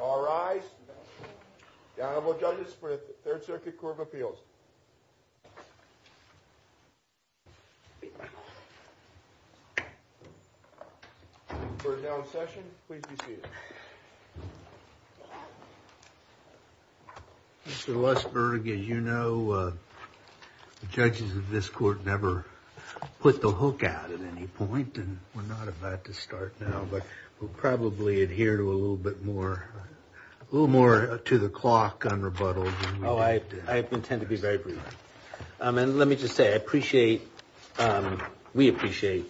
All right, the Honorable Judges for the Third Circuit Court of Appeals. We're now in session. Please be seated. Mr. Lussberg, as you know, judges of this court never put the hook out at any point, and we're not about to start now, but we'll probably adhere to a little bit more, a little more to the clock on rebuttal. Oh, I intend to be very brief. And let me just say, I appreciate, we appreciate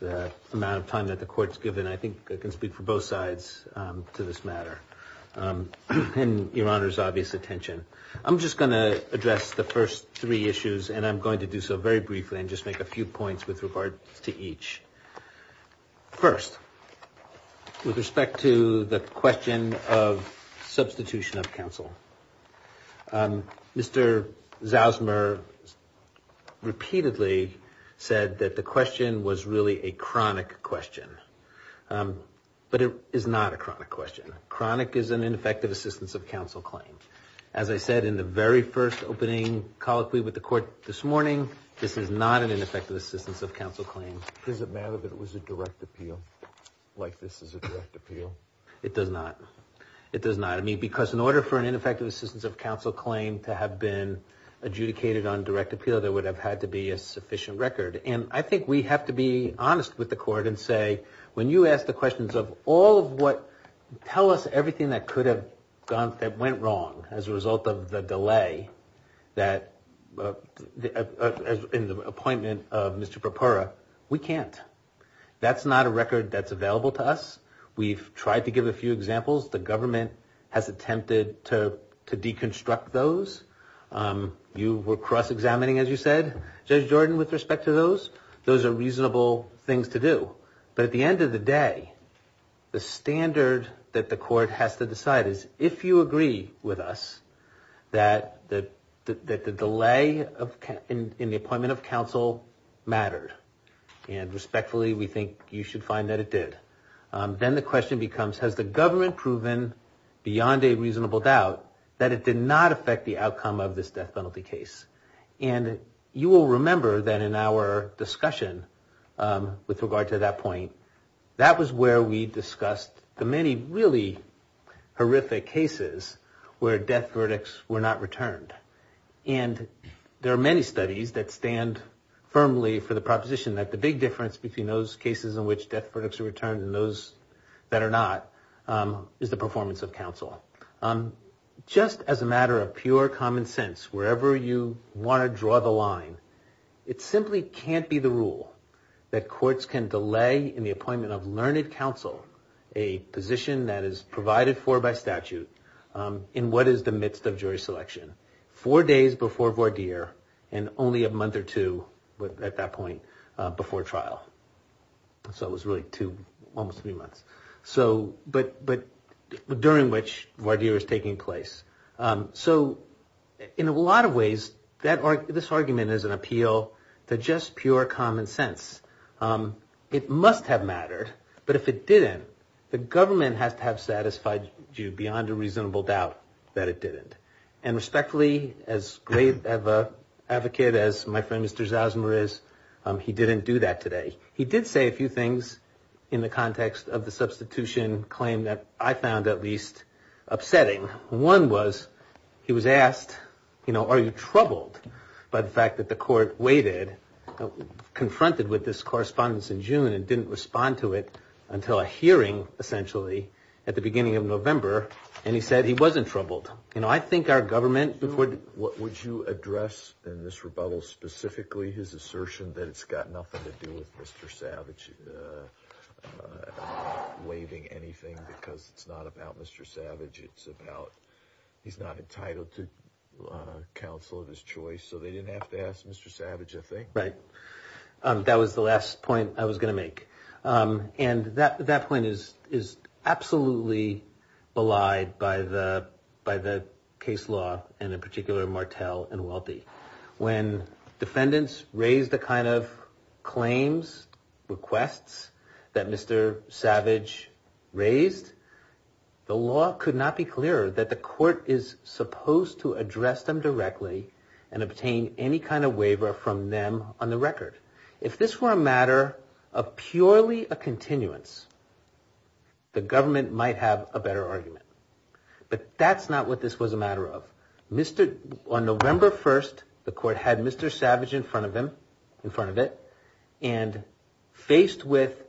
the amount of time that the Court's given. I think I can speak for both sides to this matter, and Your Honor's obvious attention. I'm just going to address the first three issues, and I'm going to do so very briefly and just make a few points with regards to each. First, with respect to the question of substitution of counsel, Mr. Zausmer repeatedly said that the question was really a chronic question, but it is not a chronic question. Chronic is an ineffective assistance of counsel claim. As I said in the very first opening colloquy with the Court this morning, this is not an ineffective assistance of counsel claim. Does it matter that it was a direct appeal, like this is a direct appeal? It does not. It does not. I mean, because in order for an ineffective assistance of counsel claim to have been adjudicated on direct appeal, there would have had to be a sufficient record. And I think we have to be honest with the Court and say, when you ask the questions of all of what, tell us everything that could have gone, that went wrong as a result of the delay that, in the appointment of Mr. Propera, we can't. That's not a record that's available to us. We've tried to give a few examples. The government has attempted to deconstruct those. You were cross-examining, as you said, Judge Jordan, with respect to those. Those are reasonable things to do. But at the end of the day, the standard that the Court has to decide is, if you agree with us that the delay in the appointment of counsel mattered, and respectfully, we think you should find that it did, then the question becomes, has the government proven beyond a reasonable doubt that it did not affect the outcome of this death penalty case? And you will remember that in our discussion with regard to that point, that was where we discussed the many really horrific cases where death verdicts were not returned. And there are many studies that stand firmly for the proposition that the big difference between those cases in which death verdicts are returned and those that are not is the performance of counsel. Just as a matter of pure common sense, wherever you want to draw the line, it simply can't be the rule that courts can delay in the appointment of learned counsel, a position that is provided for by statute, in what is the midst of jury selection. Four days before voir dire, and only a month or two at that point before trial. So it was really two, almost three months. But during which voir dire is taking place. So in a lot of ways, this argument is an appeal to just pure common sense. It must have mattered, but if it didn't, the government has to have satisfied you beyond a reasonable doubt that it didn't. And respectfully, as great of an advocate as my friend Mr. Zosmer is, he didn't do that today. He did say a few things in the context of the substitution claim that I found at least upsetting. One was, he was asked, you know, are you troubled by the fact that the court waited, confronted with this correspondence in June and didn't respond to it until a hearing, essentially, at the beginning of November. And he said he wasn't troubled. You know, I think our government would... Would you address in this rebuttal specifically his assertion that it's got nothing to do with Mr. Savage waiving anything, because it's not about Mr. Savage, it's about he's not entitled to counsel of his choice. So they didn't have to ask Mr. Savage a thing. Right. That was the last point I was going to make. And that point is absolutely belied by the case law, and in particular Martel and Welty. When defendants raise the kind of claims, requests, that Mr. Savage raised, the law could not be clearer that the court is supposed to address them directly and obtain any kind of waiver from them on their behalf. On the record, if this were a matter of purely a continuance, the government might have a better argument. But that's not what this was a matter of. On November 1st, the court had Mr. Savage in front of him, in front of it, and faced with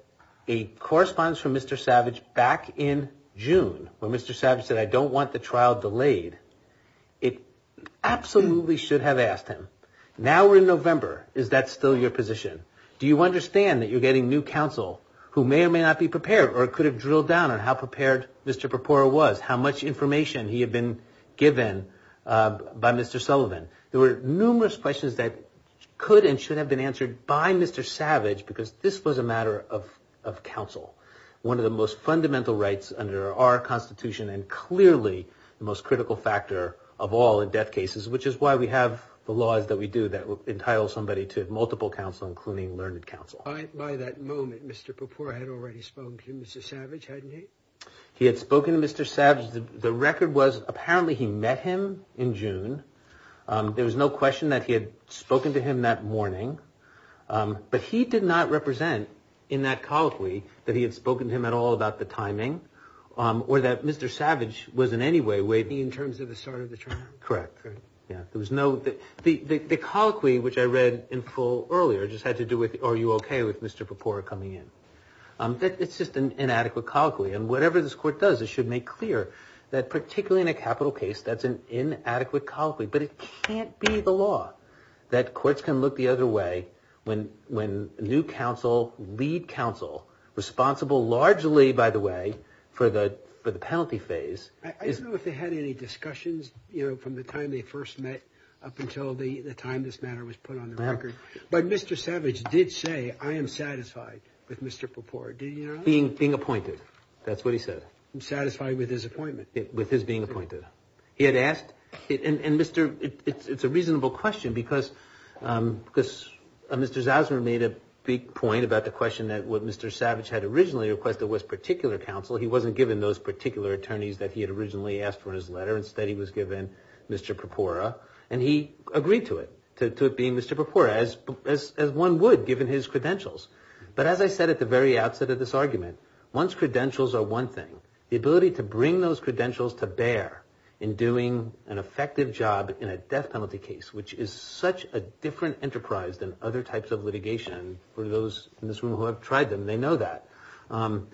a correspondence from Mr. Savage back in June, where Mr. Savage said I don't want the trial delayed, it absolutely should have asked him. Now we're in November. Is that still your position? Do you understand that you're getting new counsel who may or may not be prepared, or could have drilled down on how prepared Mr. Perpora was, how much information he had been given by Mr. Sullivan? There were numerous questions that could and should have been answered by Mr. Savage, because this was a matter of counsel. One of the most fundamental rights under our Constitution, and clearly the most critical factor of all in death cases, which is why we have the laws that we have today. By that moment, Mr. Perpora had already spoken to Mr. Savage, hadn't he? He had spoken to Mr. Savage. The record was apparently he met him in June. There was no question that he had spoken to him that morning. But he did not represent, in that colloquy, that he had spoken to him at all about the timing, or that Mr. Savage was in any way waiting. Correct. The colloquy, which I read in full earlier, just had to do with are you okay with Mr. Perpora coming in. It's just an inadequate colloquy. And whatever this Court does, it should make clear that particularly in a capital case, that's an inadequate colloquy. But it can't be the law that courts can look the other way when new counsel, lead counsel, responsible largely, by the way, for the penalty phase. I don't know if they had any discussions, you know, from the time they first met up until the time this matter was put on the record. But Mr. Savage did say, I am satisfied with Mr. Perpora. Did he or not? Being appointed. That's what he said. Satisfied with his appointment. He had asked, and Mr., it's a reasonable question because Mr. Zausman made a big point about the question that what Mr. Savage had originally requested was particular counsel. He wasn't given those particular attorneys that he had originally asked for in his letter. Instead, he was given Mr. Perpora. And he agreed to it, to it being Mr. Perpora, as one would given his credentials. But as I said at the very outset of this argument, one's credentials are one thing. The ability to bring those credentials to bear in doing an effective job in a death penalty case, which is such a different enterprise than other types of litigation for those in this room who have tried them, they know that. To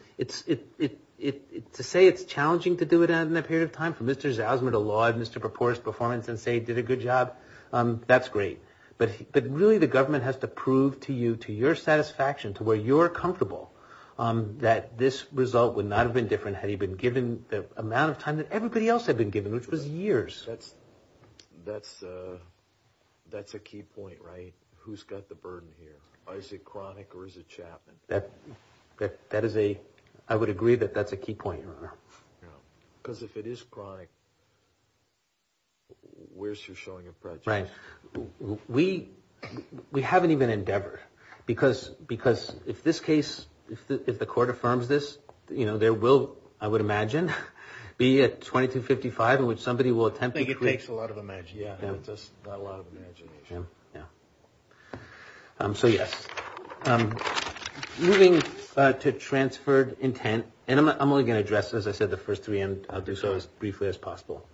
say it's challenging to do it in that period of time for Mr. Zausman to laud Mr. Perpora's performance and say he did a good job, that's great. But really the government has to prove to you, to your satisfaction, to where you're comfortable, that this result would not have been different had he been given the amount of time that everybody else had been given, which was years. That's a key point, right? Who's got the burden here? Is it Cronick or is it Chapman? That is a, I would agree that that's a key point, Your Honor. Because if it is Cronick, where's your showing of prejudice? Right. We haven't even endeavored. Because if this case, if the court affirms this, there will, I would imagine, be a 2255 in which somebody will attempt to prove. I think it takes a lot of imagination. So yes. Moving to transferred intent, and I'm only going to address, as I said, the first three and I'll do so as briefly as possible.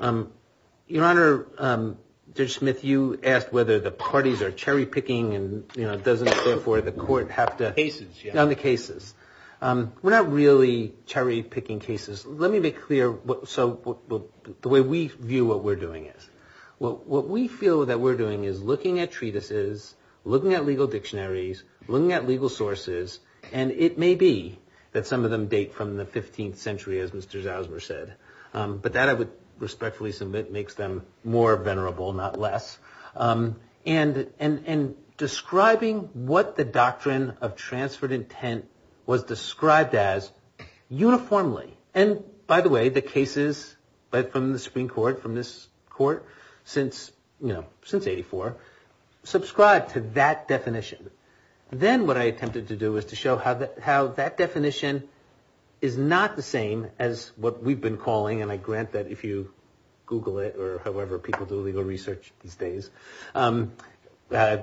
Your Honor, Judge Smith, you asked whether the parties are cherry-picking and, you know, it doesn't occur for the court have to. Cases, yeah. On the cases. We're not really cherry-picking cases. Let me be clear, so the way we view what we're doing is. What we feel that we're doing is looking at treatises, looking at legal dictionaries, looking at legal sources, and it may be that some of them date from the 15th century, as Mr. Zausmer said. But that I would respectfully submit makes them more venerable, not less. And describing what the doctrine of transferred intent was described as uniformly. And by the way, the cases from the Supreme Court, from this court, since, you know, since 84, subscribe to that definition. Then what I attempted to do was to show how that definition is not the same as what we've been calling, and I grant that if you Google it or however people do legal research these days, that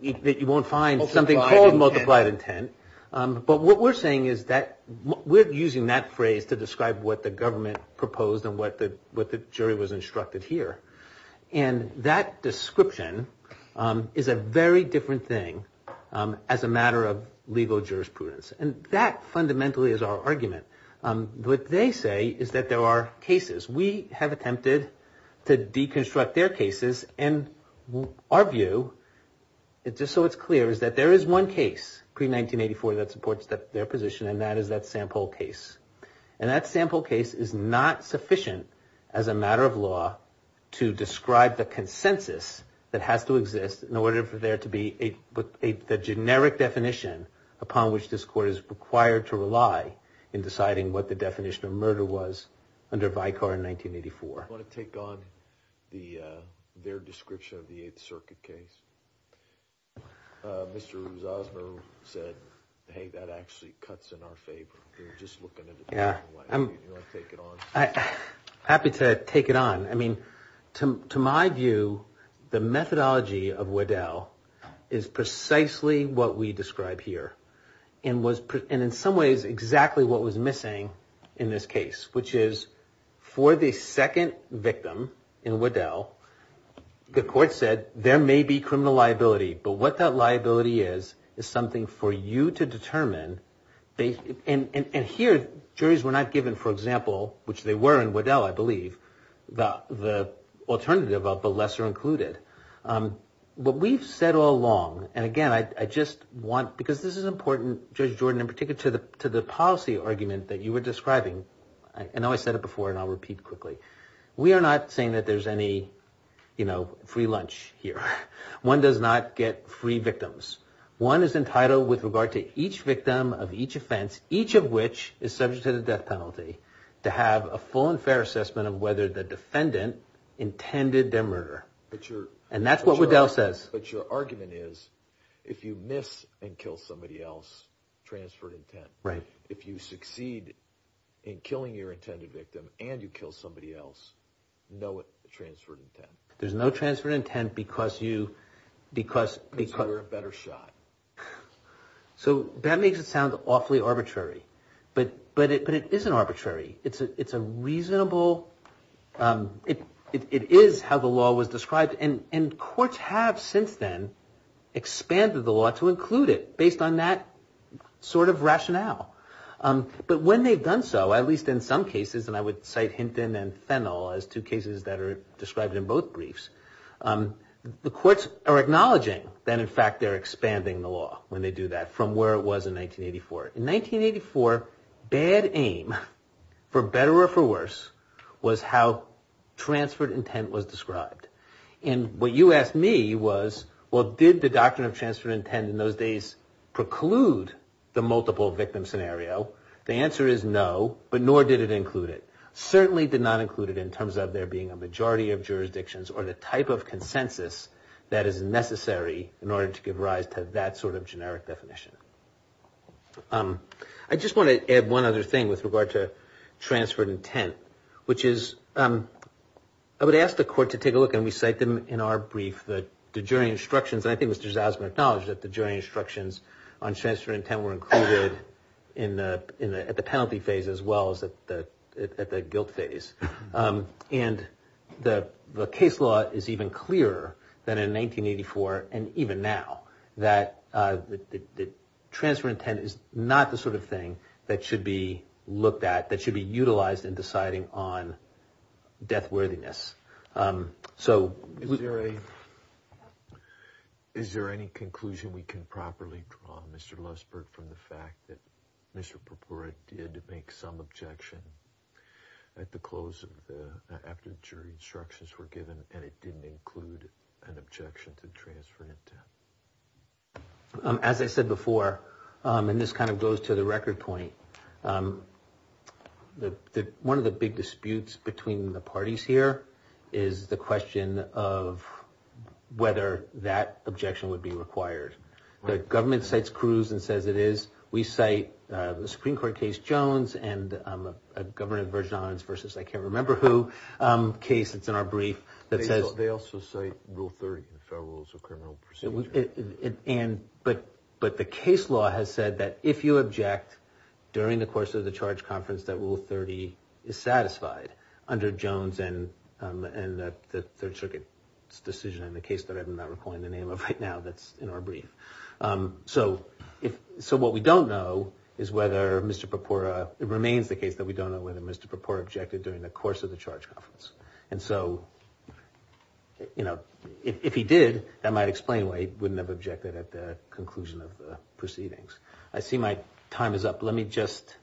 you won't find something called multiplied intent. But what we're saying is that we're using that phrase to describe what the government proposed and what the jury was instructed here. And that description is a very different thing as a matter of legal jurisprudence, and that fundamentally is our argument. What they say is that there are cases. We have attempted to deconstruct their cases, and our view, just so it's clear, is that there is one case pre-1984 that supports their position, and that is that sample case. And that sample case is not sufficient as a matter of law to describe the consensus that has to exist in order for there to be a generic definition upon which this court is required to rely in deciding what the definition of murder was under Vicar in 1984. I'm happy to take it on. I mean, to my view, the methodology of Waddell is precisely what we describe here, and in some ways exactly what was missing in this case. Which is, for the second victim in Waddell, the court said, there may be criminal liability, but what that liability is, is something for you to determine. And here, juries were not given, for example, which they were in Waddell, I believe, the alternative of the lesser included. But we've said all along, and again, I just want, because this is important, Judge Jordan, in particular, to the policy argument that you were describing. I know I said it before, and I'll repeat quickly. We are not saying that there's any free lunch here. One does not get free victims. One is entitled, with regard to each victim of each offense, each of which is subject to the death penalty, to have a full and fair assessment of whether the defendant intended their murder. And that's what Waddell says. But your argument is, if you miss and kill somebody else, transferred intent. Right. If you succeed in killing your intended victim, and you kill somebody else, no transferred intent. There's no transferred intent because you... Because you were a better shot. So that makes it sound awfully arbitrary. But it isn't arbitrary. It's a reasonable... It is how the law was described, and courts have since then expanded the law to include it, based on that sort of rationale. But when they've done so, at least in some cases, and I would cite Hinton and Fennell as two cases that are described in both briefs, the courts are acknowledging that, in fact, they're expanding the law when they do that, from where it was in 1984. In 1984, bad aim, for better or for worse, was how transferred intent was described. And what you asked me was, well, did the doctrine of transferred intent in those days preclude the multiple victim scenario? The answer is no, but nor did it include it. Certainly did not include it in terms of there being a majority of jurisdictions or the type of consensus that is necessary in order to give rise to that sort of generic definition. I just want to add one other thing with regard to transferred intent, which is... I would ask the court to take a look, and we cite them in our brief, the jury instructions. And I think Mr. Zausman acknowledged that the jury instructions on transferred intent were included at the penalty phase as well as at the guilt phase. And the case law is even clearer than in 1984, and even now, that transferred intent is not the sort of thing that should be looked at, that should be utilized in deciding on death worthiness. So... Is there any conclusion we can properly draw, Mr. Lusberg, from the fact that Mr. Purpura did make some objection at the close of the... after the jury instructions were given, and it didn't include an objection to transferred intent? As I said before, and this kind of goes to the record point, one of the big disputes between the parties here is the question of whether that objection would be required. The government cites Cruz and says it is. We cite the Supreme Court case Jones and a government version of violence versus I-can't-remember-who case that's in our brief that says... But the case law has said that if you object during the course of the charge conference, that Rule 30 is satisfied under Jones and the Third Circuit's decision, and the case that I'm not recalling the name of right now that's in our brief. So what we don't know is whether Mr. Purpura, it remains the case that we don't know whether Mr. Purpura objected during the course of the charge conference. And so, you know, if he did, that might explain why he wouldn't have objected at the conclusion of the proceedings. I see my time is up. Let me just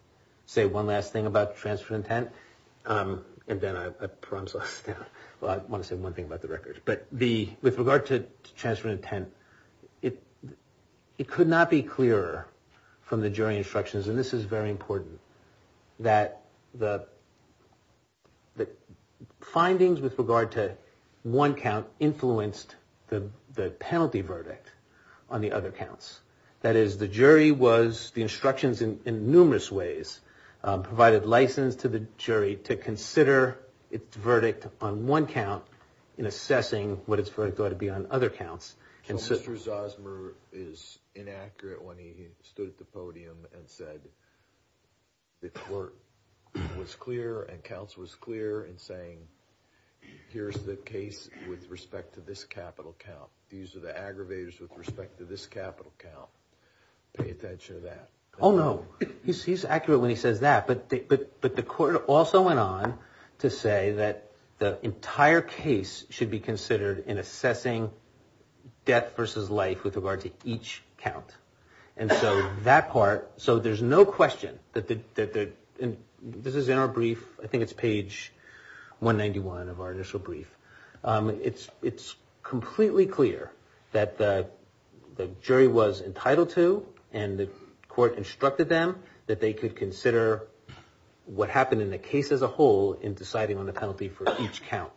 say one last thing about transferred intent, and then I'll... Well, I want to say one thing about the records. But with regard to transferred intent, it could not be clearer from the jury instructions, and this is very important, that the findings with regard to one count influenced the penalty verdict on the other counts. That is, the jury was, the instructions in numerous ways, provided license to the jury to consider its verdict on one count in assessing what its verdict ought to be on other counts. So Mr. Zosmer is inaccurate when he stood at the podium and said the court was clear and counsel was clear in saying, here's the case with respect to this capital count. These are the aggravators with respect to this capital count. Pay attention to that. Oh, no. He's accurate when he says that. But the court also went on to say that the entire case should be considered in assessing death versus life with regard to each count. And so that part, so there's no question that the, and this is in our brief, I think it's page 191 of our initial brief. It's completely clear that the jury was entitled to, and the court instructed them that they could consider one count of death versus life. What happened in the case as a whole in deciding on the penalty for each count.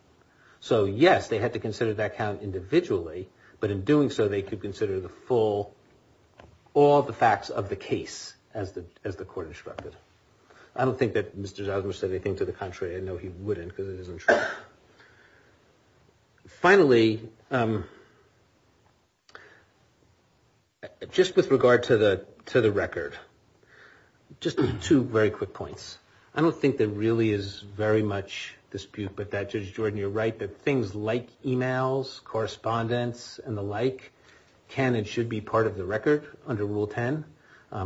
So yes, they had to consider that count individually, but in doing so, they could consider the full, all the facts of the case as the court instructed. I don't think that Mr. Zosmer said anything to the contrary. I know he wouldn't because it isn't true. Finally, just with regard to the record, just two very quick points. I don't think there really is very much dispute, but that Judge Jordan, you're right, that things like emails, correspondence, and the like, can and should be part of the record under Rule 10.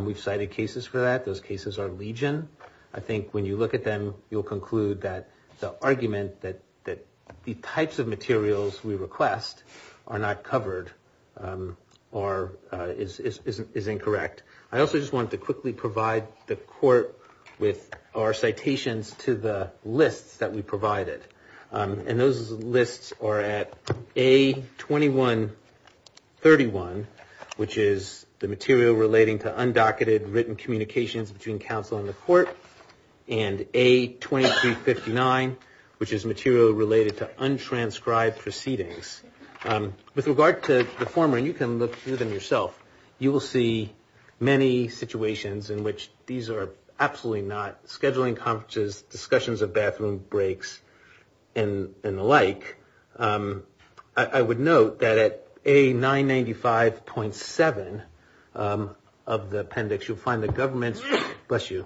We've cited cases for that. Those cases are legion. I think when you look at them, you'll conclude that the argument that the types of materials we request are not covered is incorrect. I also just wanted to quickly provide the court with our citations to the lists that we provided. And those lists are at A2131, which is the material relating to undocketed written communications between counsel and the court, and A2359, which is material related to untranscribed proceedings. With regard to the former, and you can look through them yourself, you will see many situations in which these are absolutely not scheduling conferences, discussions of bathroom breaks, and the like. I would note that at A995.7 of the appendix, you'll find the government's, bless you,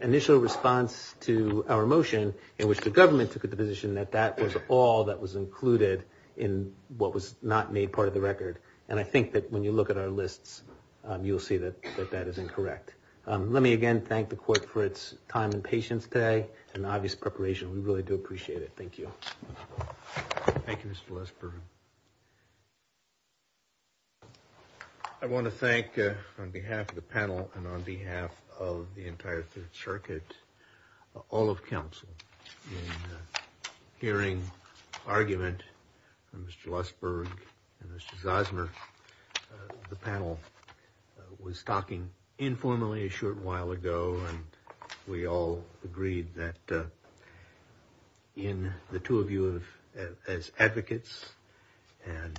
initial response to our motion in which the government took the position that that was all that was included in the appendix. And what was not made part of the record. And I think that when you look at our lists, you'll see that that is incorrect. Let me again thank the court for its time and patience today and obvious preparation. We really do appreciate it. Thank you. Thank you, Mr. Lesper. I want to thank, on behalf of the panel and on behalf of the entire Third Circuit, all of counsel. Hearing argument from Mr. Lesper and Mr. Zosmer, the panel was talking informally a short while ago, and we all agreed that in the two of you as advocates, and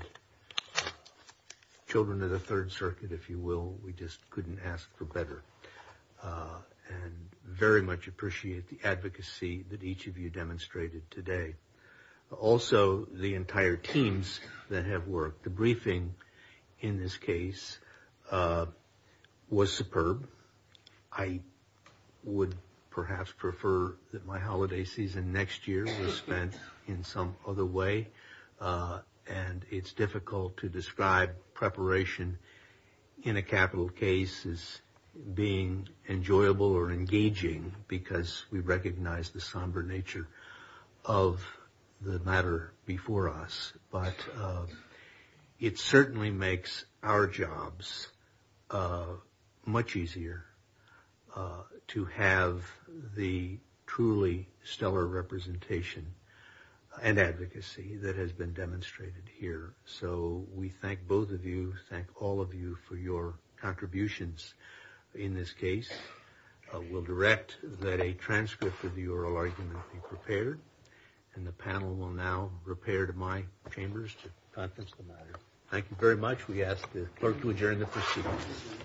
children of the Third Circuit, if you will, we just couldn't ask for better. And very much appreciate the advocacy that each of you demonstrated today. Also, the entire teams that have worked. The briefing in this case was superb. I would perhaps prefer that my holiday season next year was spent in some other way. And it's difficult to describe preparation in a capital case as being enjoyable or engaging. Because we recognize the somber nature of the matter before us. But it certainly makes our jobs much easier to have the truly stellar representation and advocacy that has been demonstrated. So we thank both of you. Thank all of you for your contributions in this case. We'll direct that a transcript of the oral argument be prepared. And the panel will now prepare to my chambers to contest the matter. Thank you very much. We ask the clerk to adjourn the proceedings.